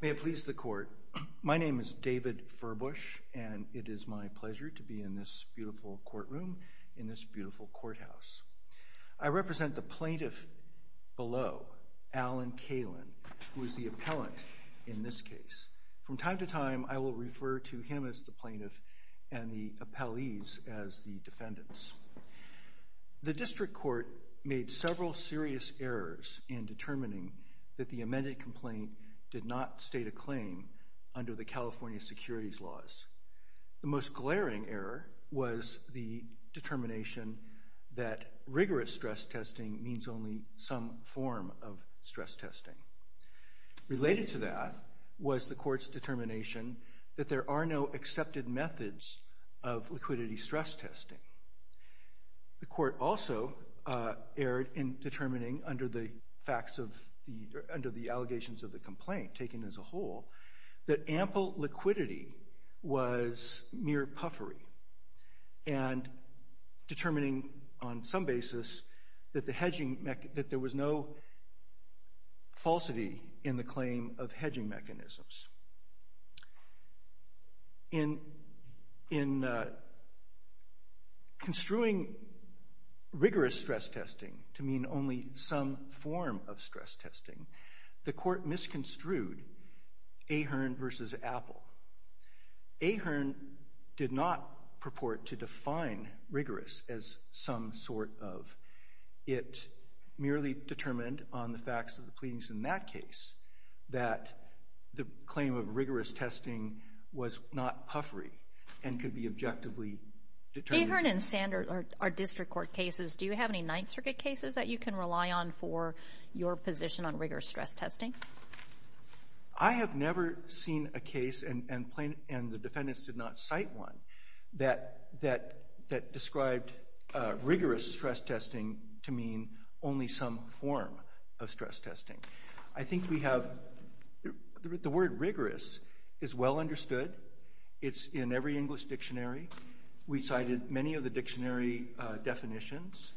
May it please the Court, my name is David Furbush and it is my pleasure to be in this beautiful courtroom, in this beautiful courthouse. I represent the plaintiff below, Alan Kalin, who is the appellant in this case. From time to time I will refer to him as the plaintiff and the appellees as the defendants. The District Court made several serious errors in determining that the amended complaint did not state a claim under the California securities laws. The most glaring error was the determination that rigorous stress testing means only some form of stress testing. Related to that was the Court's determination that there are no accepted methods of liquidity stress testing. The Court also erred in determining under the allegations of the complaint taken as a whole that ample liquidity was mere puffery and determining on some basis that there was no falsity in the claim of hedging mechanisms. In construing rigorous stress testing to mean only some form of stress testing, the Court misconstrued Ahearn v. Apple. Ahearn did not purport to define rigorous as some sort of. It merely determined on the facts of the pleadings in that case that the claim of rigorous testing was not puffery and could be objectively determined. Ahearn and Sanders are District Court cases. Do you have any Ninth Circuit cases that you can rely on for your position on rigorous stress testing? I have never seen a case, and the defendants did not cite one, that described rigorous stress testing to mean only some form of stress testing. I think the word rigorous is well understood. It's in every English dictionary. We cited many of the dictionary definitions.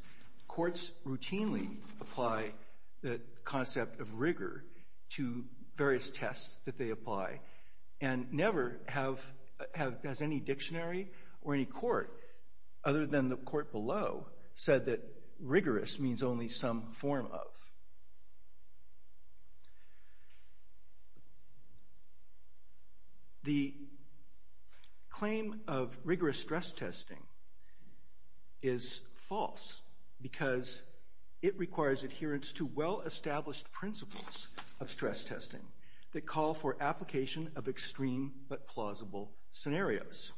Courts routinely apply the concept of rigor to various tests that they apply, and never has any dictionary or any court, other than the court below, said that rigorous means only some form of. The claim of rigorous stress testing is false because it requires adherence to well-established principles of stress testing that call for application of extreme but plausible scenarios.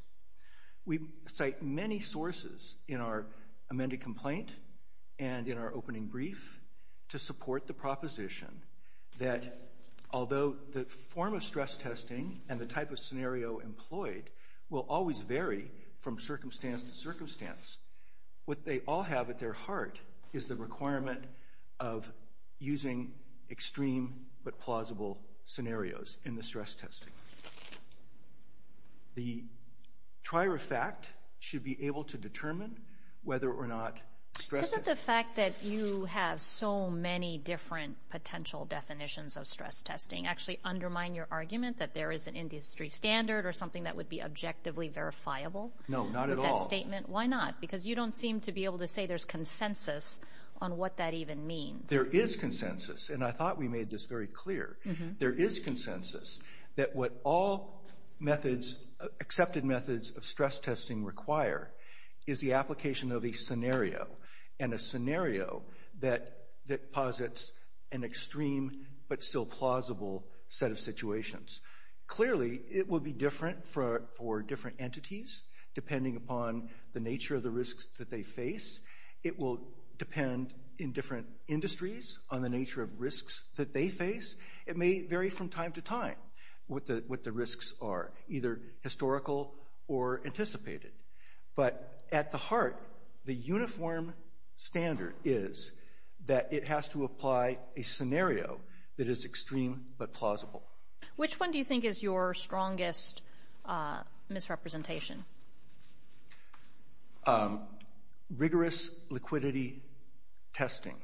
We cite many sources in our amended complaint and in our opening brief to support the proposition that, although the form of stress testing and the type of scenario employed will always vary from circumstance to circumstance, what they all have at their heart is the requirement of using extreme but plausible scenarios in the stress testing. The trier of fact should be able to determine whether or not stress testing— Isn't the fact that you have so many different potential definitions of stress testing actually undermine your argument that there is an industry standard or something that would be objectively verifiable? No, not at all. With that statement? Why not? Because you don't seem to be able to say there's consensus on what that even means. There is consensus, and I thought we made this very clear. There is consensus that what all accepted methods of stress testing require is the application of a scenario, and a scenario that posits an extreme but still plausible set of situations. Clearly, it will be different for different entities depending upon the nature of the risks that they face. It will depend in different industries on the nature of risks that they face. It may vary from time to time what the risks are, either historical or anticipated. But at the heart, the uniform standard is that it has to apply a scenario that is extreme but plausible. Which one do you think is your strongest misrepresentation? Rigorous liquidity testing.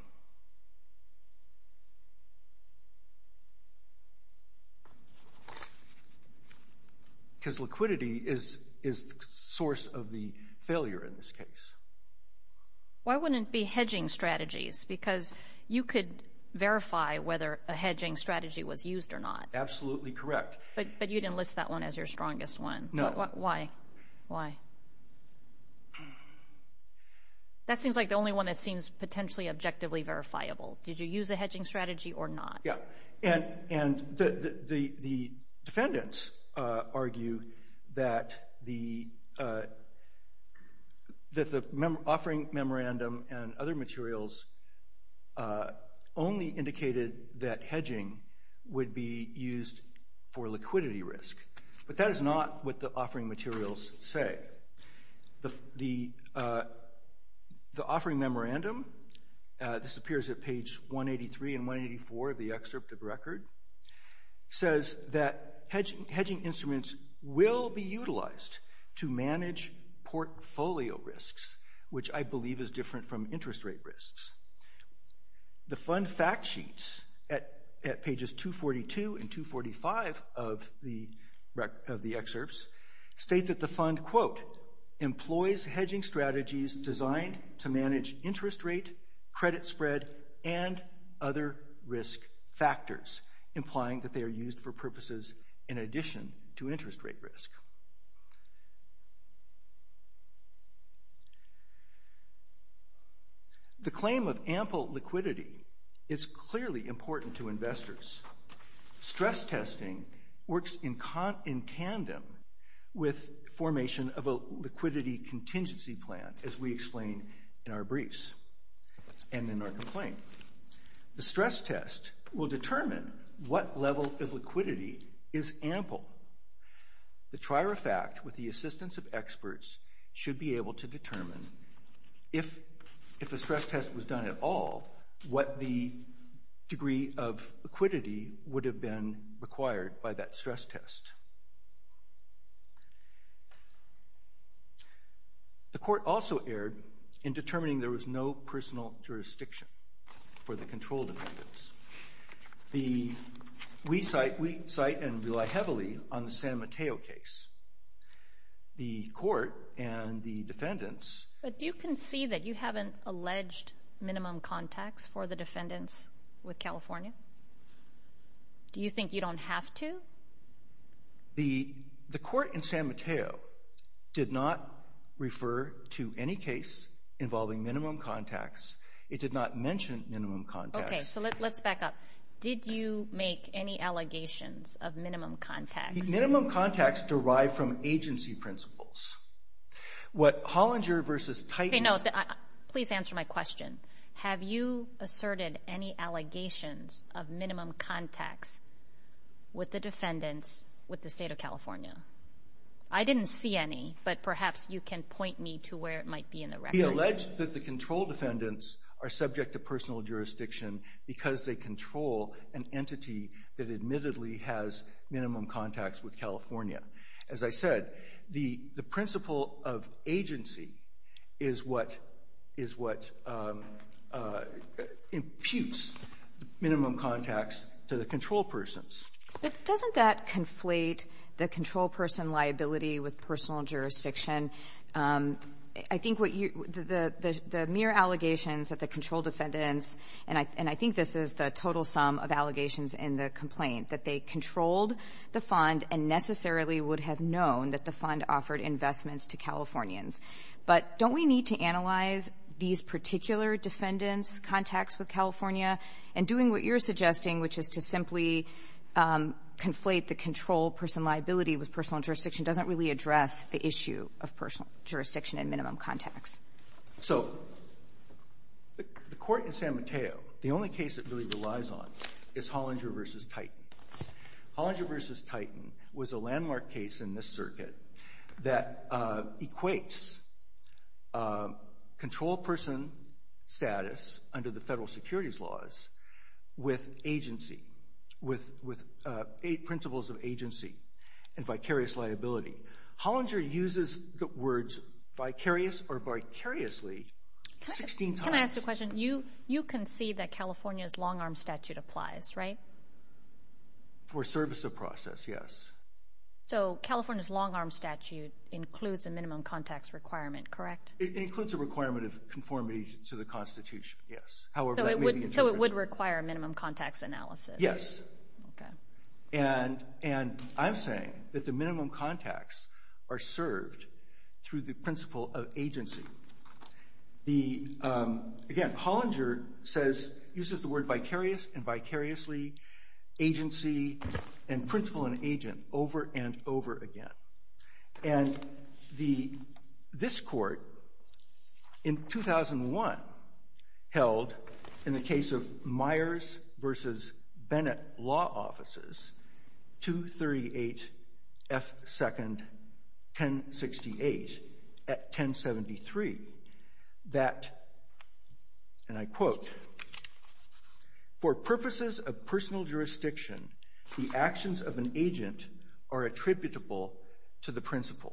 Because liquidity is the source of the failure in this case. Why wouldn't it be hedging strategies? Because you could verify whether a hedging strategy was used or not. Absolutely correct. But you didn't list that one as your strongest one. No. Why? Why? That seems like the only one that seems potentially objectively verifiable. Did you use a hedging strategy or not? Yeah. And the defendants argue that the offering memorandum and other materials only indicated that hedging would be used for liquidity risk. But that is not what the offering materials say. The offering memorandum, this appears at page 183 and 184 of the excerpt of the record, says that hedging instruments will be utilized to manage portfolio risks, which I believe is different from interest rate risks. The fund fact sheets at pages 242 and 245 of the excerpts state that the fund, quote, employs hedging strategies designed to manage interest rate, credit spread, and other risk factors, implying that they are used for purposes in addition to interest rate risk. The claim of ample liquidity is clearly important to investors. Stress testing works in tandem with formation of a liquidity contingency plan, as we explain in our briefs and in our complaint. The stress test will determine what level of liquidity is ample. The trier of fact, with the assistance of experts, should be able to determine, if a stress test was done at all, what the degree of liquidity would have been required by that stress test. The court also erred in determining there was no personal jurisdiction for the control defendants. We cite and rely heavily on the San Mateo case. The court and the defendants... But do you concede that you haven't alleged minimum contacts for the defendants with California? Do you think you don't have to? The court in San Mateo did not refer to any case involving minimum contacts. It did not mention minimum contacts. Okay, so let's back up. Did you make any allegations of minimum contacts? Minimum contacts derive from agency principles. What Hollinger versus Titan... Please answer my question. Have you asserted any allegations of minimum contacts with the defendants with the state of California? I didn't see any, but perhaps you can point me to where it might be in the record. We allege that the control defendants are subject to personal jurisdiction because they control an entity that admittedly has minimum contacts with California. As I said, the principle of agency is what imputes minimum contacts to the control persons. But doesn't that conflate the control person liability with personal jurisdiction? I think what you the mere allegations that the control defendants, and I think this is the total sum of allegations in the complaint, that they controlled the fund and necessarily would have known that the fund offered investments to Californians. But don't we need to analyze these particular defendants' contacts with California? And doing what you're suggesting, which is to simply conflate the control person liability with personal jurisdiction doesn't really address the issue of personal jurisdiction and minimum contacts. So the court in San Mateo, the only case it really relies on is Hollinger versus Titan. Hollinger versus Titan was a landmark case in this circuit that equates control person status under the federal securities laws with principles of agency and vicarious liability. Hollinger uses the words vicarious or vicariously 16 times. Can I ask you a question? You concede that California's long-arm statute applies, right? For service of process, yes. So California's long-arm statute includes a minimum contacts requirement, correct? It includes a requirement of conformity to the Constitution, yes. So it would require a minimum contacts analysis? Yes. Okay. And I'm saying that the minimum contacts are served through the principle of agency. Again, Hollinger uses the word vicarious and vicariously, agency, and principle and agent over and over again. And this court in 2001 held, in the case of Myers versus Bennett Law Offices, 238 F. 2nd. 1068 at 1073 that, and I quote, For purposes of personal jurisdiction, the actions of an agent are attributable to the principle.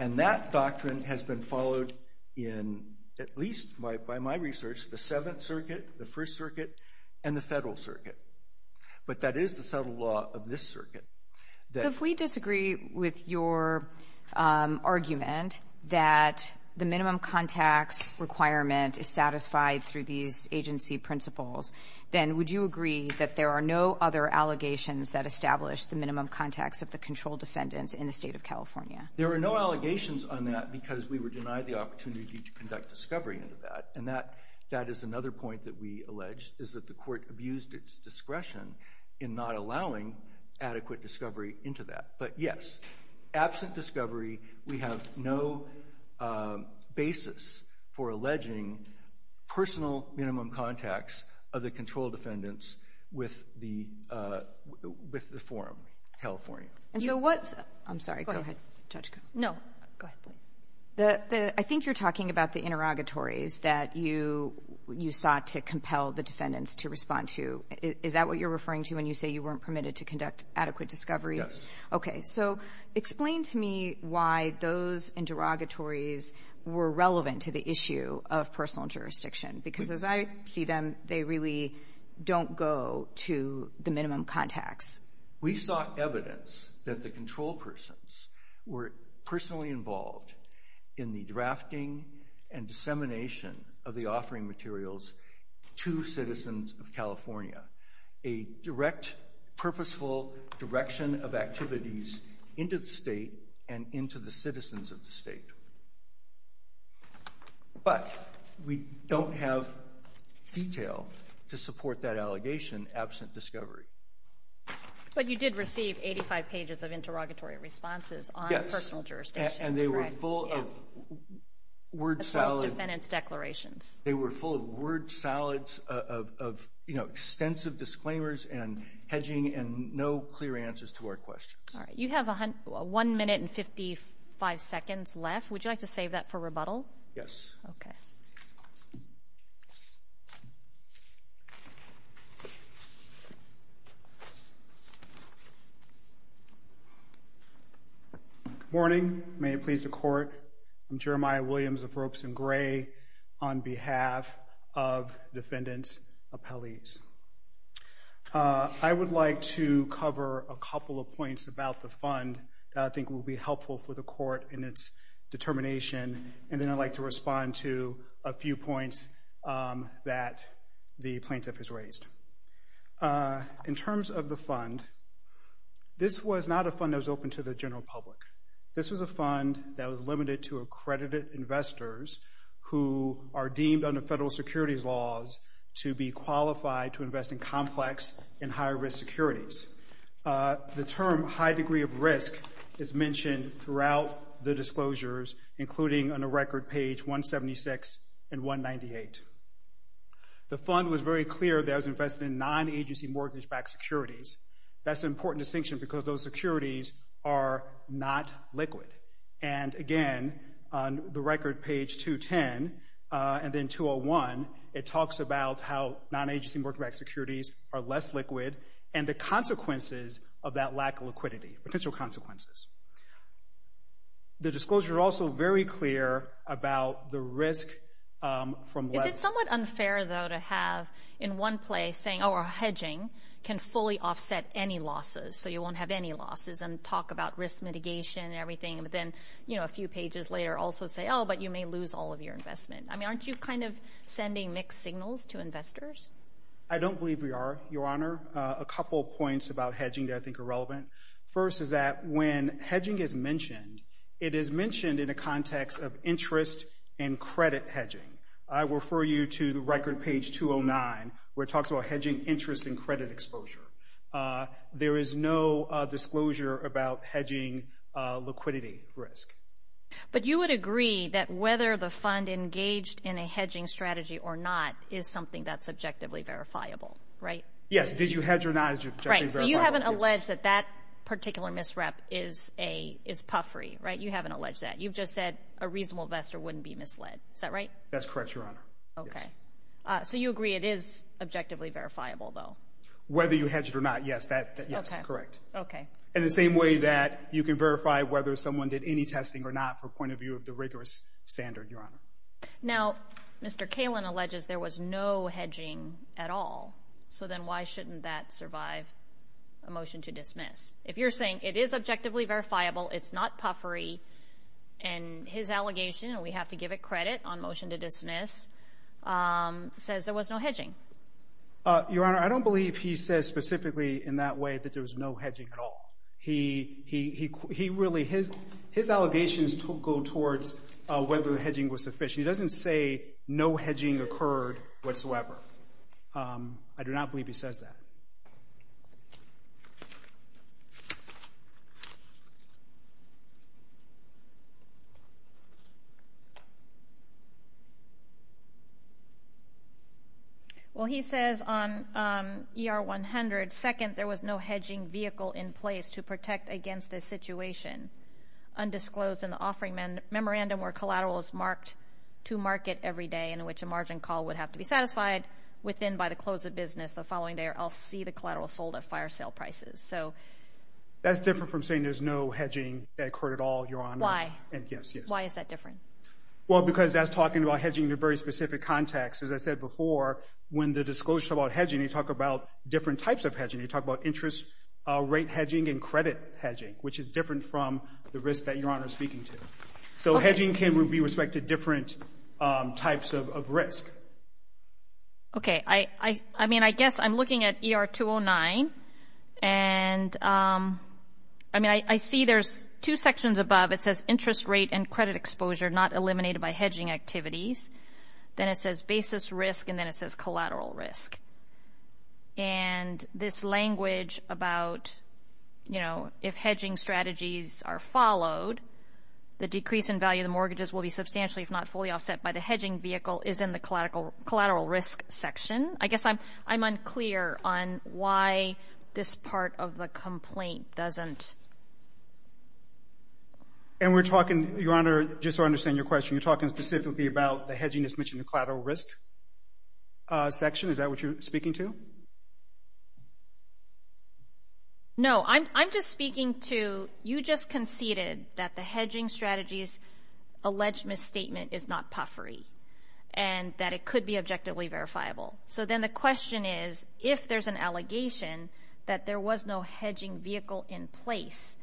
And that doctrine has been followed in, at least by my research, the Seventh Circuit, the First Circuit, and the Federal Circuit. But that is the subtle law of this circuit. If we disagree with your argument that the minimum contacts requirement is satisfied through these agency principles, then would you agree that there are no other allegations that establish the minimum contacts of the controlled defendants in the State of California? There are no allegations on that because we were denied the opportunity to conduct discovery into that. And that is another point that we allege is that the court abused its discretion in not allowing adequate discovery into that. But, yes, absent discovery, we have no basis for alleging personal minimum contacts of the controlled defendants with the forum, California. And so what, I'm sorry, go ahead, Judge. No, go ahead. I think you're talking about the interrogatories that you sought to compel the defendants to respond to. Is that what you're referring to when you say you weren't permitted to conduct adequate discovery? Yes. Okay, so explain to me why those interrogatories were relevant to the issue of personal jurisdiction. Because as I see them, they really don't go to the minimum contacts. We sought evidence that the control persons were personally involved in the drafting and dissemination of the offering materials to citizens of California, a direct, purposeful direction of activities into the state and into the citizens of the state. But we don't have detail to support that allegation absent discovery. But you did receive 85 pages of interrogatory responses on personal jurisdiction, correct? Yes, and they were full of word salad. Assessed defendants' declarations. They were full of word salads of, you know, extensive disclaimers and hedging and no clear answers to our questions. All right. You have one minute and 55 seconds left. Would you like to save that for rebuttal? Yes. Okay. Good morning. May it please the Court. I'm Jeremiah Williams of Ropes and Gray on behalf of defendant's appellees. I would like to cover a couple of points about the fund that I think will be helpful for the Court in its determination, and then I'd like to respond to a few points that the plaintiff has raised. In terms of the fund, this was not a fund that was open to the general public. This was a fund that was limited to accredited investors who are deemed under federal securities laws to be qualified to invest in complex and high-risk securities. The term high degree of risk is mentioned throughout the disclosures, including on the record page 176 and 198. The fund was very clear that it was invested in non-agency mortgage-backed securities. That's an important distinction because those securities are not liquid. And, again, on the record page 210 and then 201, it talks about how non-agency mortgage-backed securities are less liquid and the consequences of that lack of liquidity, potential consequences. The disclosure is also very clear about the risk from level. It's somewhat unfair, though, to have, in one place, saying, oh, our hedging can fully offset any losses, so you won't have any losses, and talk about risk mitigation and everything, but then, you know, a few pages later also say, oh, but you may lose all of your investment. I mean, aren't you kind of sending mixed signals to investors? I don't believe we are, Your Honor. A couple of points about hedging that I think are relevant. First is that when hedging is mentioned, it is mentioned in a context of interest and credit hedging. I refer you to the record page 209, where it talks about hedging interest and credit exposure. There is no disclosure about hedging liquidity risk. But you would agree that whether the fund engaged in a hedging strategy or not is something that's objectively verifiable, right? Yes. Did you hedge or not? Right. So you haven't alleged that that particular misrep is puffery, right? You haven't alleged that. You've just said a reasonable investor wouldn't be misled. Is that right? That's correct, Your Honor. Okay. So you agree it is objectively verifiable, though? Whether you hedged or not, yes. That's correct. Okay. In the same way that you can verify whether someone did any testing or not from the point of view of the rigorous standard, Your Honor. Now, Mr. Kalin alleges there was no hedging at all. So then why shouldn't that survive a motion to dismiss? If you're saying it is objectively verifiable, it's not puffery, and his allegation, and we have to give it credit on motion to dismiss, says there was no hedging. Your Honor, I don't believe he says specifically in that way that there was no hedging at all. He really, his allegations go towards whether the hedging was sufficient. He doesn't say no hedging occurred whatsoever. I do not believe he says that. Thank you. Well, he says on ER-100, second, there was no hedging vehicle in place to protect against a situation undisclosed in the offering memorandum where collateral is marked to market every day in which a margin call would have to be satisfied within by the close of business the following day or else see the collateral sold at fire sale prices. That's different from saying there's no hedging that occurred at all, Your Honor. Why? Yes, yes. Why is that different? Well, because that's talking about hedging in a very specific context. As I said before, when the disclosure about hedging, you talk about different types of hedging. You talk about interest rate hedging and credit hedging, which is different from the risk that Your Honor is speaking to. So hedging can be respected different types of risk. Okay. I mean, I guess I'm looking at ER-209, and I mean I see there's two sections above. It says interest rate and credit exposure not eliminated by hedging activities. Then it says basis risk, and then it says collateral risk. And this language about, you know, if hedging strategies are followed, the decrease in value of the mortgages will be substantially, if not fully, offset by the hedging vehicle is in the collateral risk section. I guess I'm unclear on why this part of the complaint doesn't. And we're talking, Your Honor, just so I understand your question, you're talking specifically about the hedging that's mentioned in the collateral risk section. Is that what you're speaking to? No. I'm just speaking to you just conceded that the hedging strategy's alleged misstatement is not puffery and that it could be objectively verifiable. So then the question is, if there's an allegation that there was no hedging vehicle in place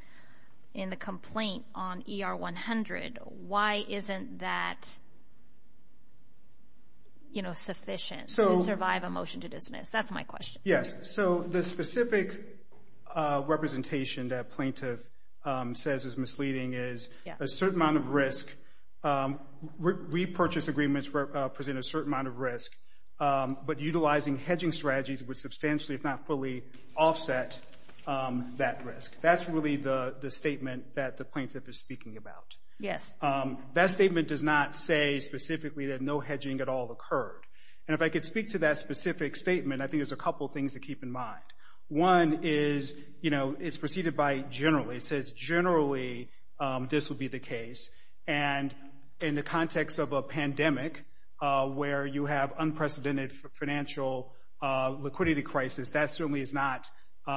in the complaint on ER-100, why isn't that, you know, sufficient to survive a motion to dismiss? That's my question. Yes. So the specific representation that plaintiff says is misleading is a certain amount of risk. Repurchase agreements present a certain amount of risk, but utilizing hedging strategies would substantially, if not fully, offset that risk. That's really the statement that the plaintiff is speaking about. Yes. That statement does not say specifically that no hedging at all occurred. And if I could speak to that specific statement, I think there's a couple things to keep in mind. One is, you know, it's preceded by generally. It says generally this would be the case, and in the context of a pandemic where you have unprecedented financial liquidity crisis, that certainly is not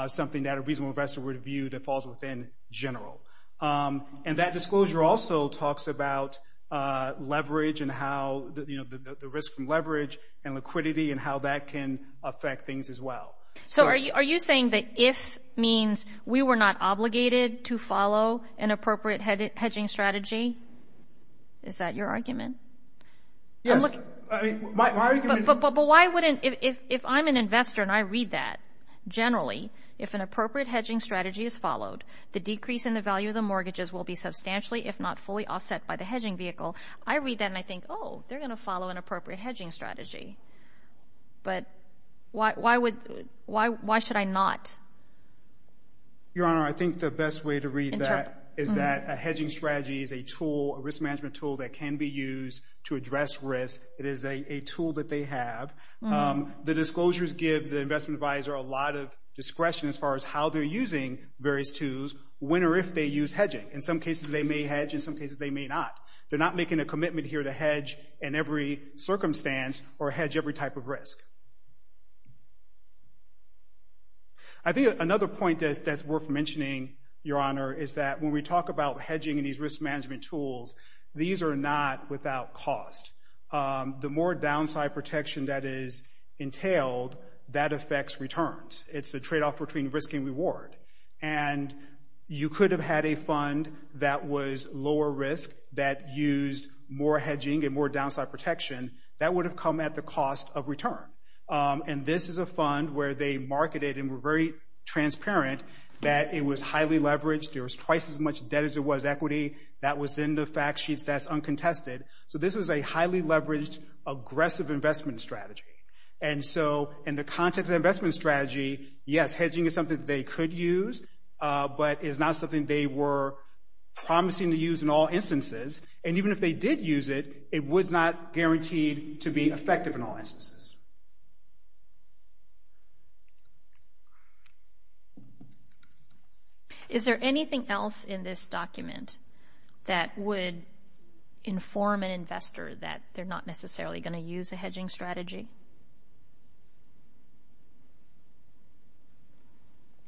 something that a reasonable investor would view that falls within general. And that disclosure also talks about leverage and how, you know, the risk from leverage and liquidity and how that can affect things as well. So are you saying that if means we were not obligated to follow an appropriate hedging strategy? Is that your argument? Yes. But why wouldn't, if I'm an investor and I read that, generally, if an appropriate hedging strategy is followed, the decrease in the value of the mortgages will be substantially, if not fully, offset by the hedging vehicle. I read that and I think, oh, they're going to follow an appropriate hedging strategy. But why should I not? Your Honor, I think the best way to read that is that a hedging strategy is a tool, a risk management tool that can be used to address risk. It is a tool that they have. The disclosures give the investment advisor a lot of discretion as far as how they're using various tools, when or if they use hedging. In some cases, they may hedge. In some cases, they may not. They're not making a commitment here to hedge in every circumstance or hedge every type of risk. I think another point that's worth mentioning, Your Honor, is that when we talk about hedging and these risk management tools, these are not without cost. The more downside protection that is entailed, that affects returns. It's a tradeoff between risk and reward. And you could have had a fund that was lower risk that used more hedging and more downside protection. That would have come at the cost of return. And this is a fund where they marketed and were very transparent that it was highly leveraged. There was twice as much debt as there was equity. That was in the fact sheets. That's uncontested. So this was a highly leveraged, aggressive investment strategy. And so in the context of investment strategy, yes, hedging is something that they could use, but it is not something they were promising to use in all instances. And even if they did use it, it was not guaranteed to be effective in all instances. Is there anything else in this document that would inform an investor that they're not necessarily going to use a hedging strategy?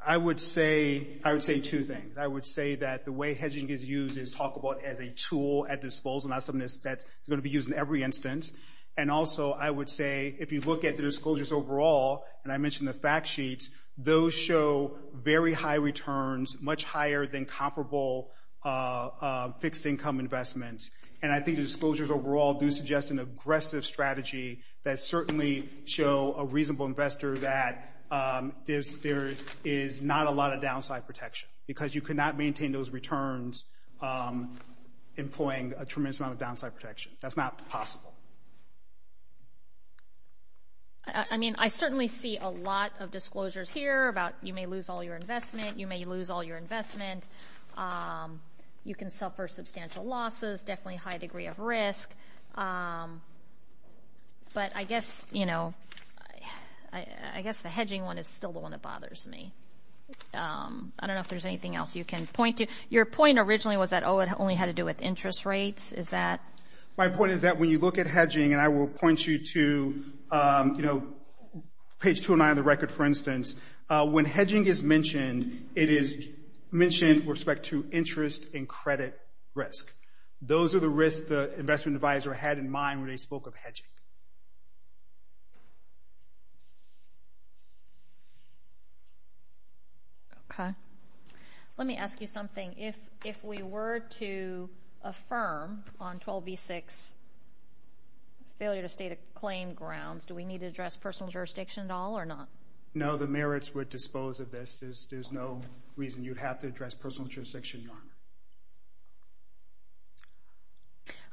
I would say two things. I would say that the way hedging is used is talked about as a tool at disposal, not something that's going to be used in every instance. And also I would say if you look at the disclosures overall, and I mentioned the fact sheets, those show very high returns, much higher than comparable fixed income investments. And I think the disclosures overall do suggest an aggressive strategy that certainly show a reasonable investor that there is not a lot of downside protection because you cannot maintain those returns employing a tremendous amount of downside protection. That's not possible. I mean, I certainly see a lot of disclosures here about you may lose all your investment, you may lose all your investment, you can suffer substantial losses, definitely a high degree of risk. But I guess the hedging one is still the one that bothers me. I don't know if there's anything else you can point to. Your point originally was that, oh, it only had to do with interest rates, is that? My point is that when you look at hedging, and I will point you to, you know, page 209 of the record, for instance, when hedging is mentioned, it is mentioned with respect to interest and credit risk. Those are the risks the investment advisor had in mind when they spoke of hedging. Okay. Let me ask you something. If we were to affirm on 12v6 failure to state a claim grounds, do we need to address personal jurisdiction at all or not? No, the merits would dispose of this. There's no reason you'd have to address personal jurisdiction.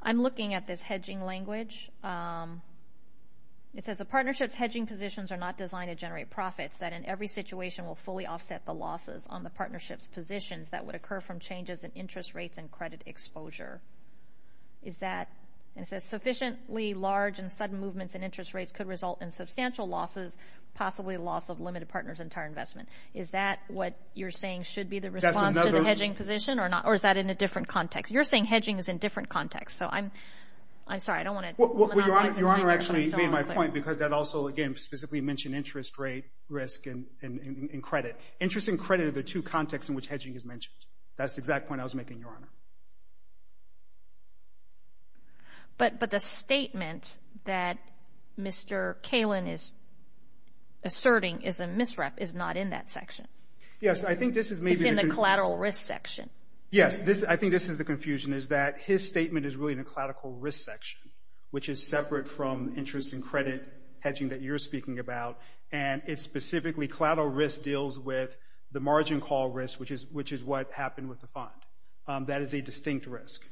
I'm looking at this hedging language. It says the partnership's hedging positions are not designed to generate profits, that in every situation will fully offset the losses on the partnership's positions that would occur from changes in interest rates and credit exposure. It says sufficiently large and sudden movements in interest rates could result in substantial losses, possibly loss of limited partners and entire investment. Is that what you're saying should be the response to the hedging position? Or is that in a different context? You're saying hedging is in a different context. So I'm sorry, I don't want to— Your Honor actually made my point because that also, again, specifically mentioned interest rate, risk, and credit. Interest and credit are the two contexts in which hedging is mentioned. That's the exact point I was making, Your Honor. But the statement that Mr. Kalin is asserting is a misrep is not in that section. Yes, I think this is maybe— Yes, I think this is the confusion, is that his statement is really in a collateral risk section, which is separate from interest and credit hedging that you're speaking about, and it's specifically collateral risk deals with the margin call risk, which is what happened with the fund. That is a distinct risk.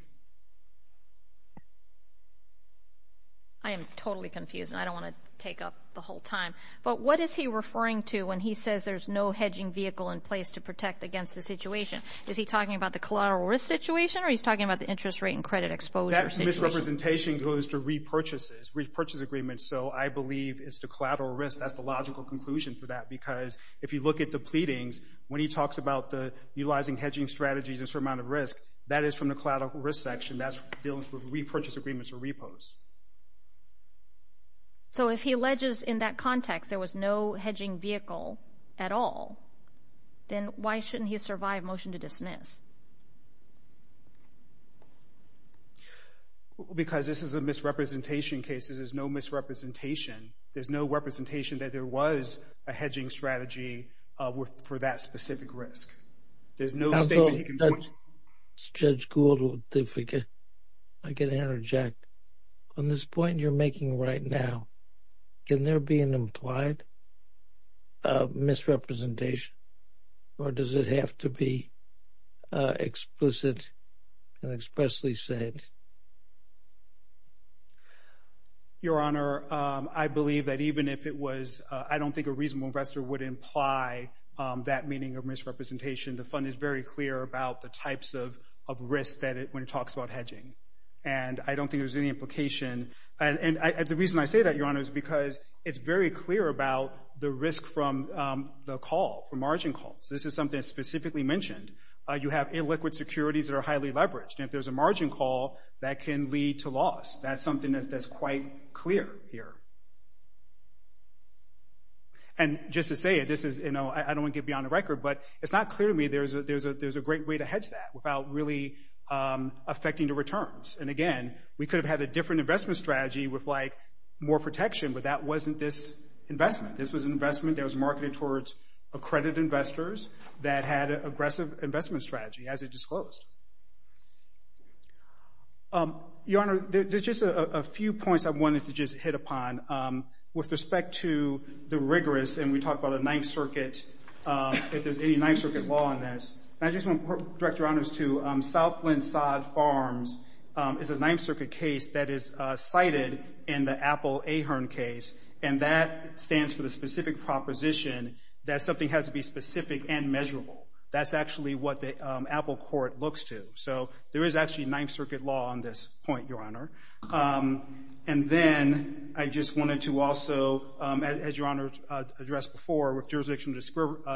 I am totally confused, and I don't want to take up the whole time. But what is he referring to when he says there's no hedging vehicle in place to protect against the situation? Is he talking about the collateral risk situation, or he's talking about the interest rate and credit exposure situation? That misrepresentation goes to repurchases, repurchase agreements. So I believe it's the collateral risk that's the logical conclusion for that because if you look at the pleadings, when he talks about utilizing hedging strategies and a certain amount of risk, that is from the collateral risk section. That's dealing with repurchase agreements or repos. So if he alleges in that context there was no hedging vehicle at all, then why shouldn't he survive motion to dismiss? Because this is a misrepresentation case. There's no misrepresentation. There's no representation that there was a hedging strategy for that specific risk. There's no statement he can point to. Judge Gould, if I could interject. On this point you're making right now, can there be an implied misrepresentation, or does it have to be explicit and expressly said? Your Honor, I believe that even if it was, I don't think a reasonable investor would imply that meaning of misrepresentation. The Fund is very clear about the types of risk when it talks about hedging, and I don't think there's any implication. The reason I say that, Your Honor, is because it's very clear about the risk from the call, from margin calls. This is something that's specifically mentioned. You have illiquid securities that are highly leveraged, and if there's a margin call, that can lead to loss. That's something that's quite clear here. And just to say it, I don't want to get beyond the record, but it's not clear to me there's a great way to hedge that without really affecting the returns. And again, we could have had a different investment strategy with more protection, but that wasn't this investment. This was an investment that was marketed towards accredited investors that had an aggressive investment strategy, as it disclosed. Your Honor, there's just a few points I wanted to just hit upon. With respect to the rigorous, and we talked about a Ninth Circuit, if there's any Ninth Circuit law on this, I just want to direct Your Honors to South Flint Sod Farms. It's a Ninth Circuit case that is cited in the Apple Ahern case, and that stands for the specific proposition that something has to be specific and measurable. That's actually what the Apple court looks to. So there is actually Ninth Circuit law on this point, Your Honor. And then I just wanted to also, as Your Honor addressed before, with jurisdictional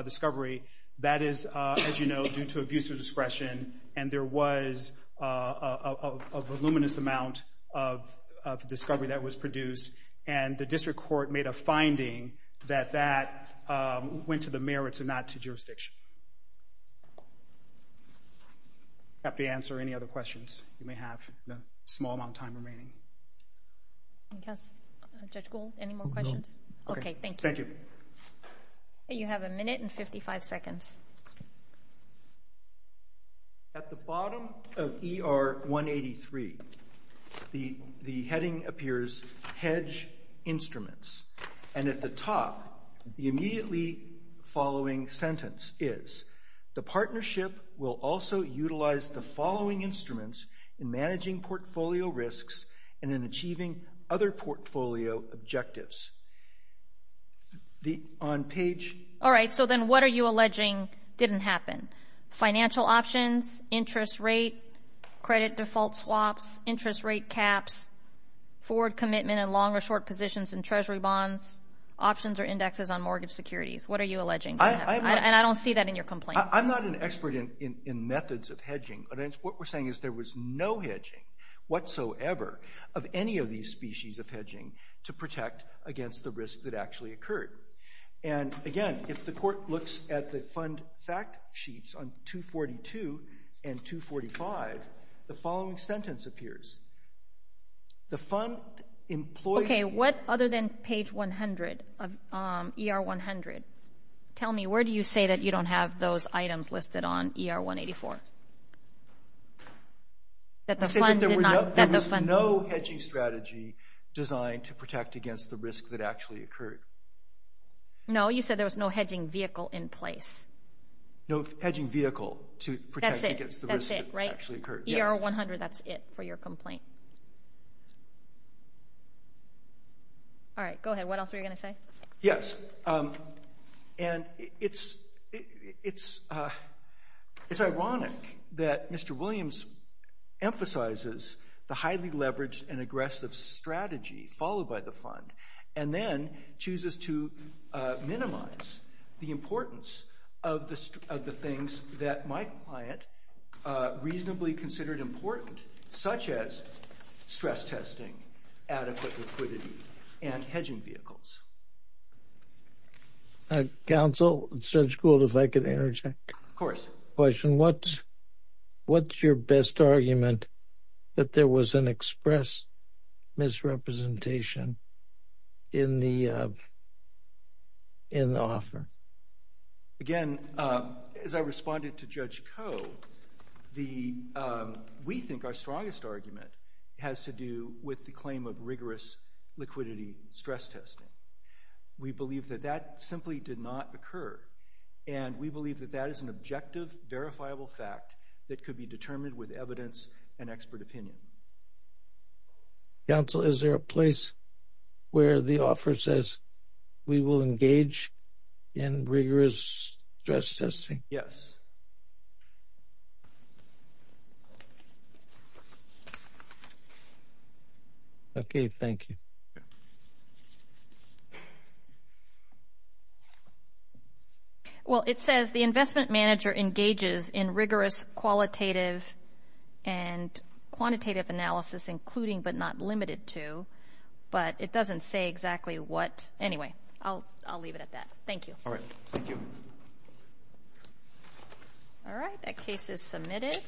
discovery, that is, as you know, due to abuse of discretion, and there was a voluminous amount of discovery that was produced, and the district court made a finding that that went to the merits and not to jurisdiction. Happy to answer any other questions you may have. There's a small amount of time remaining. Judge Gould, any more questions? Okay, thank you. Thank you. You have a minute and 55 seconds. At the bottom of ER 183, the heading appears, hedge instruments. And at the top, the immediately following sentence is, the partnership will also utilize the following instruments in managing portfolio risks and in achieving other portfolio objectives. All right, so then what are you alleging didn't happen? Financial options, interest rate, credit default swaps, interest rate caps, forward commitment in long or short positions in treasury bonds, options or indexes on mortgage securities. What are you alleging? And I don't see that in your complaint. I'm not an expert in methods of hedging. What we're saying is there was no hedging whatsoever of any of these species of hedging to protect against the risk that actually occurred. And, again, if the court looks at the fund fact sheets on 242 and 245, the following sentence appears. The fund employs — Okay, what other than page 100 of ER 100? Tell me, where do you say that you don't have those items listed on ER 184? I said that there was no hedging strategy designed to protect against the risk that actually occurred. No, you said there was no hedging vehicle in place. No hedging vehicle to protect against the risk that actually occurred. ER 100, that's it for your complaint. All right, go ahead. What else were you going to say? Yes, and it's ironic that Mr. Williams emphasizes the highly leveraged and aggressive strategy followed by the fund and then chooses to minimize the importance of the things that my client reasonably considered important, such as stress testing, adequate liquidity, and hedging vehicles. Counsel, Judge Gould, if I could interject. Of course. What's your best argument that there was an express misrepresentation in the offer? Again, as I responded to Judge Koh, we think our strongest argument has to do with the claim of rigorous liquidity stress testing. We believe that that simply did not occur, and we believe that that is an objective, verifiable fact that could be determined with evidence and expert opinion. Counsel, is there a place where the offer says we will engage in rigorous stress testing? Yes. Okay, thank you. Well, it says the investment manager engages in rigorous qualitative and quantitative analysis, including but not limited to, but it doesn't say exactly what. Anyway, I'll leave it at that. Thank you. All right, thank you. All right, that case is submitted.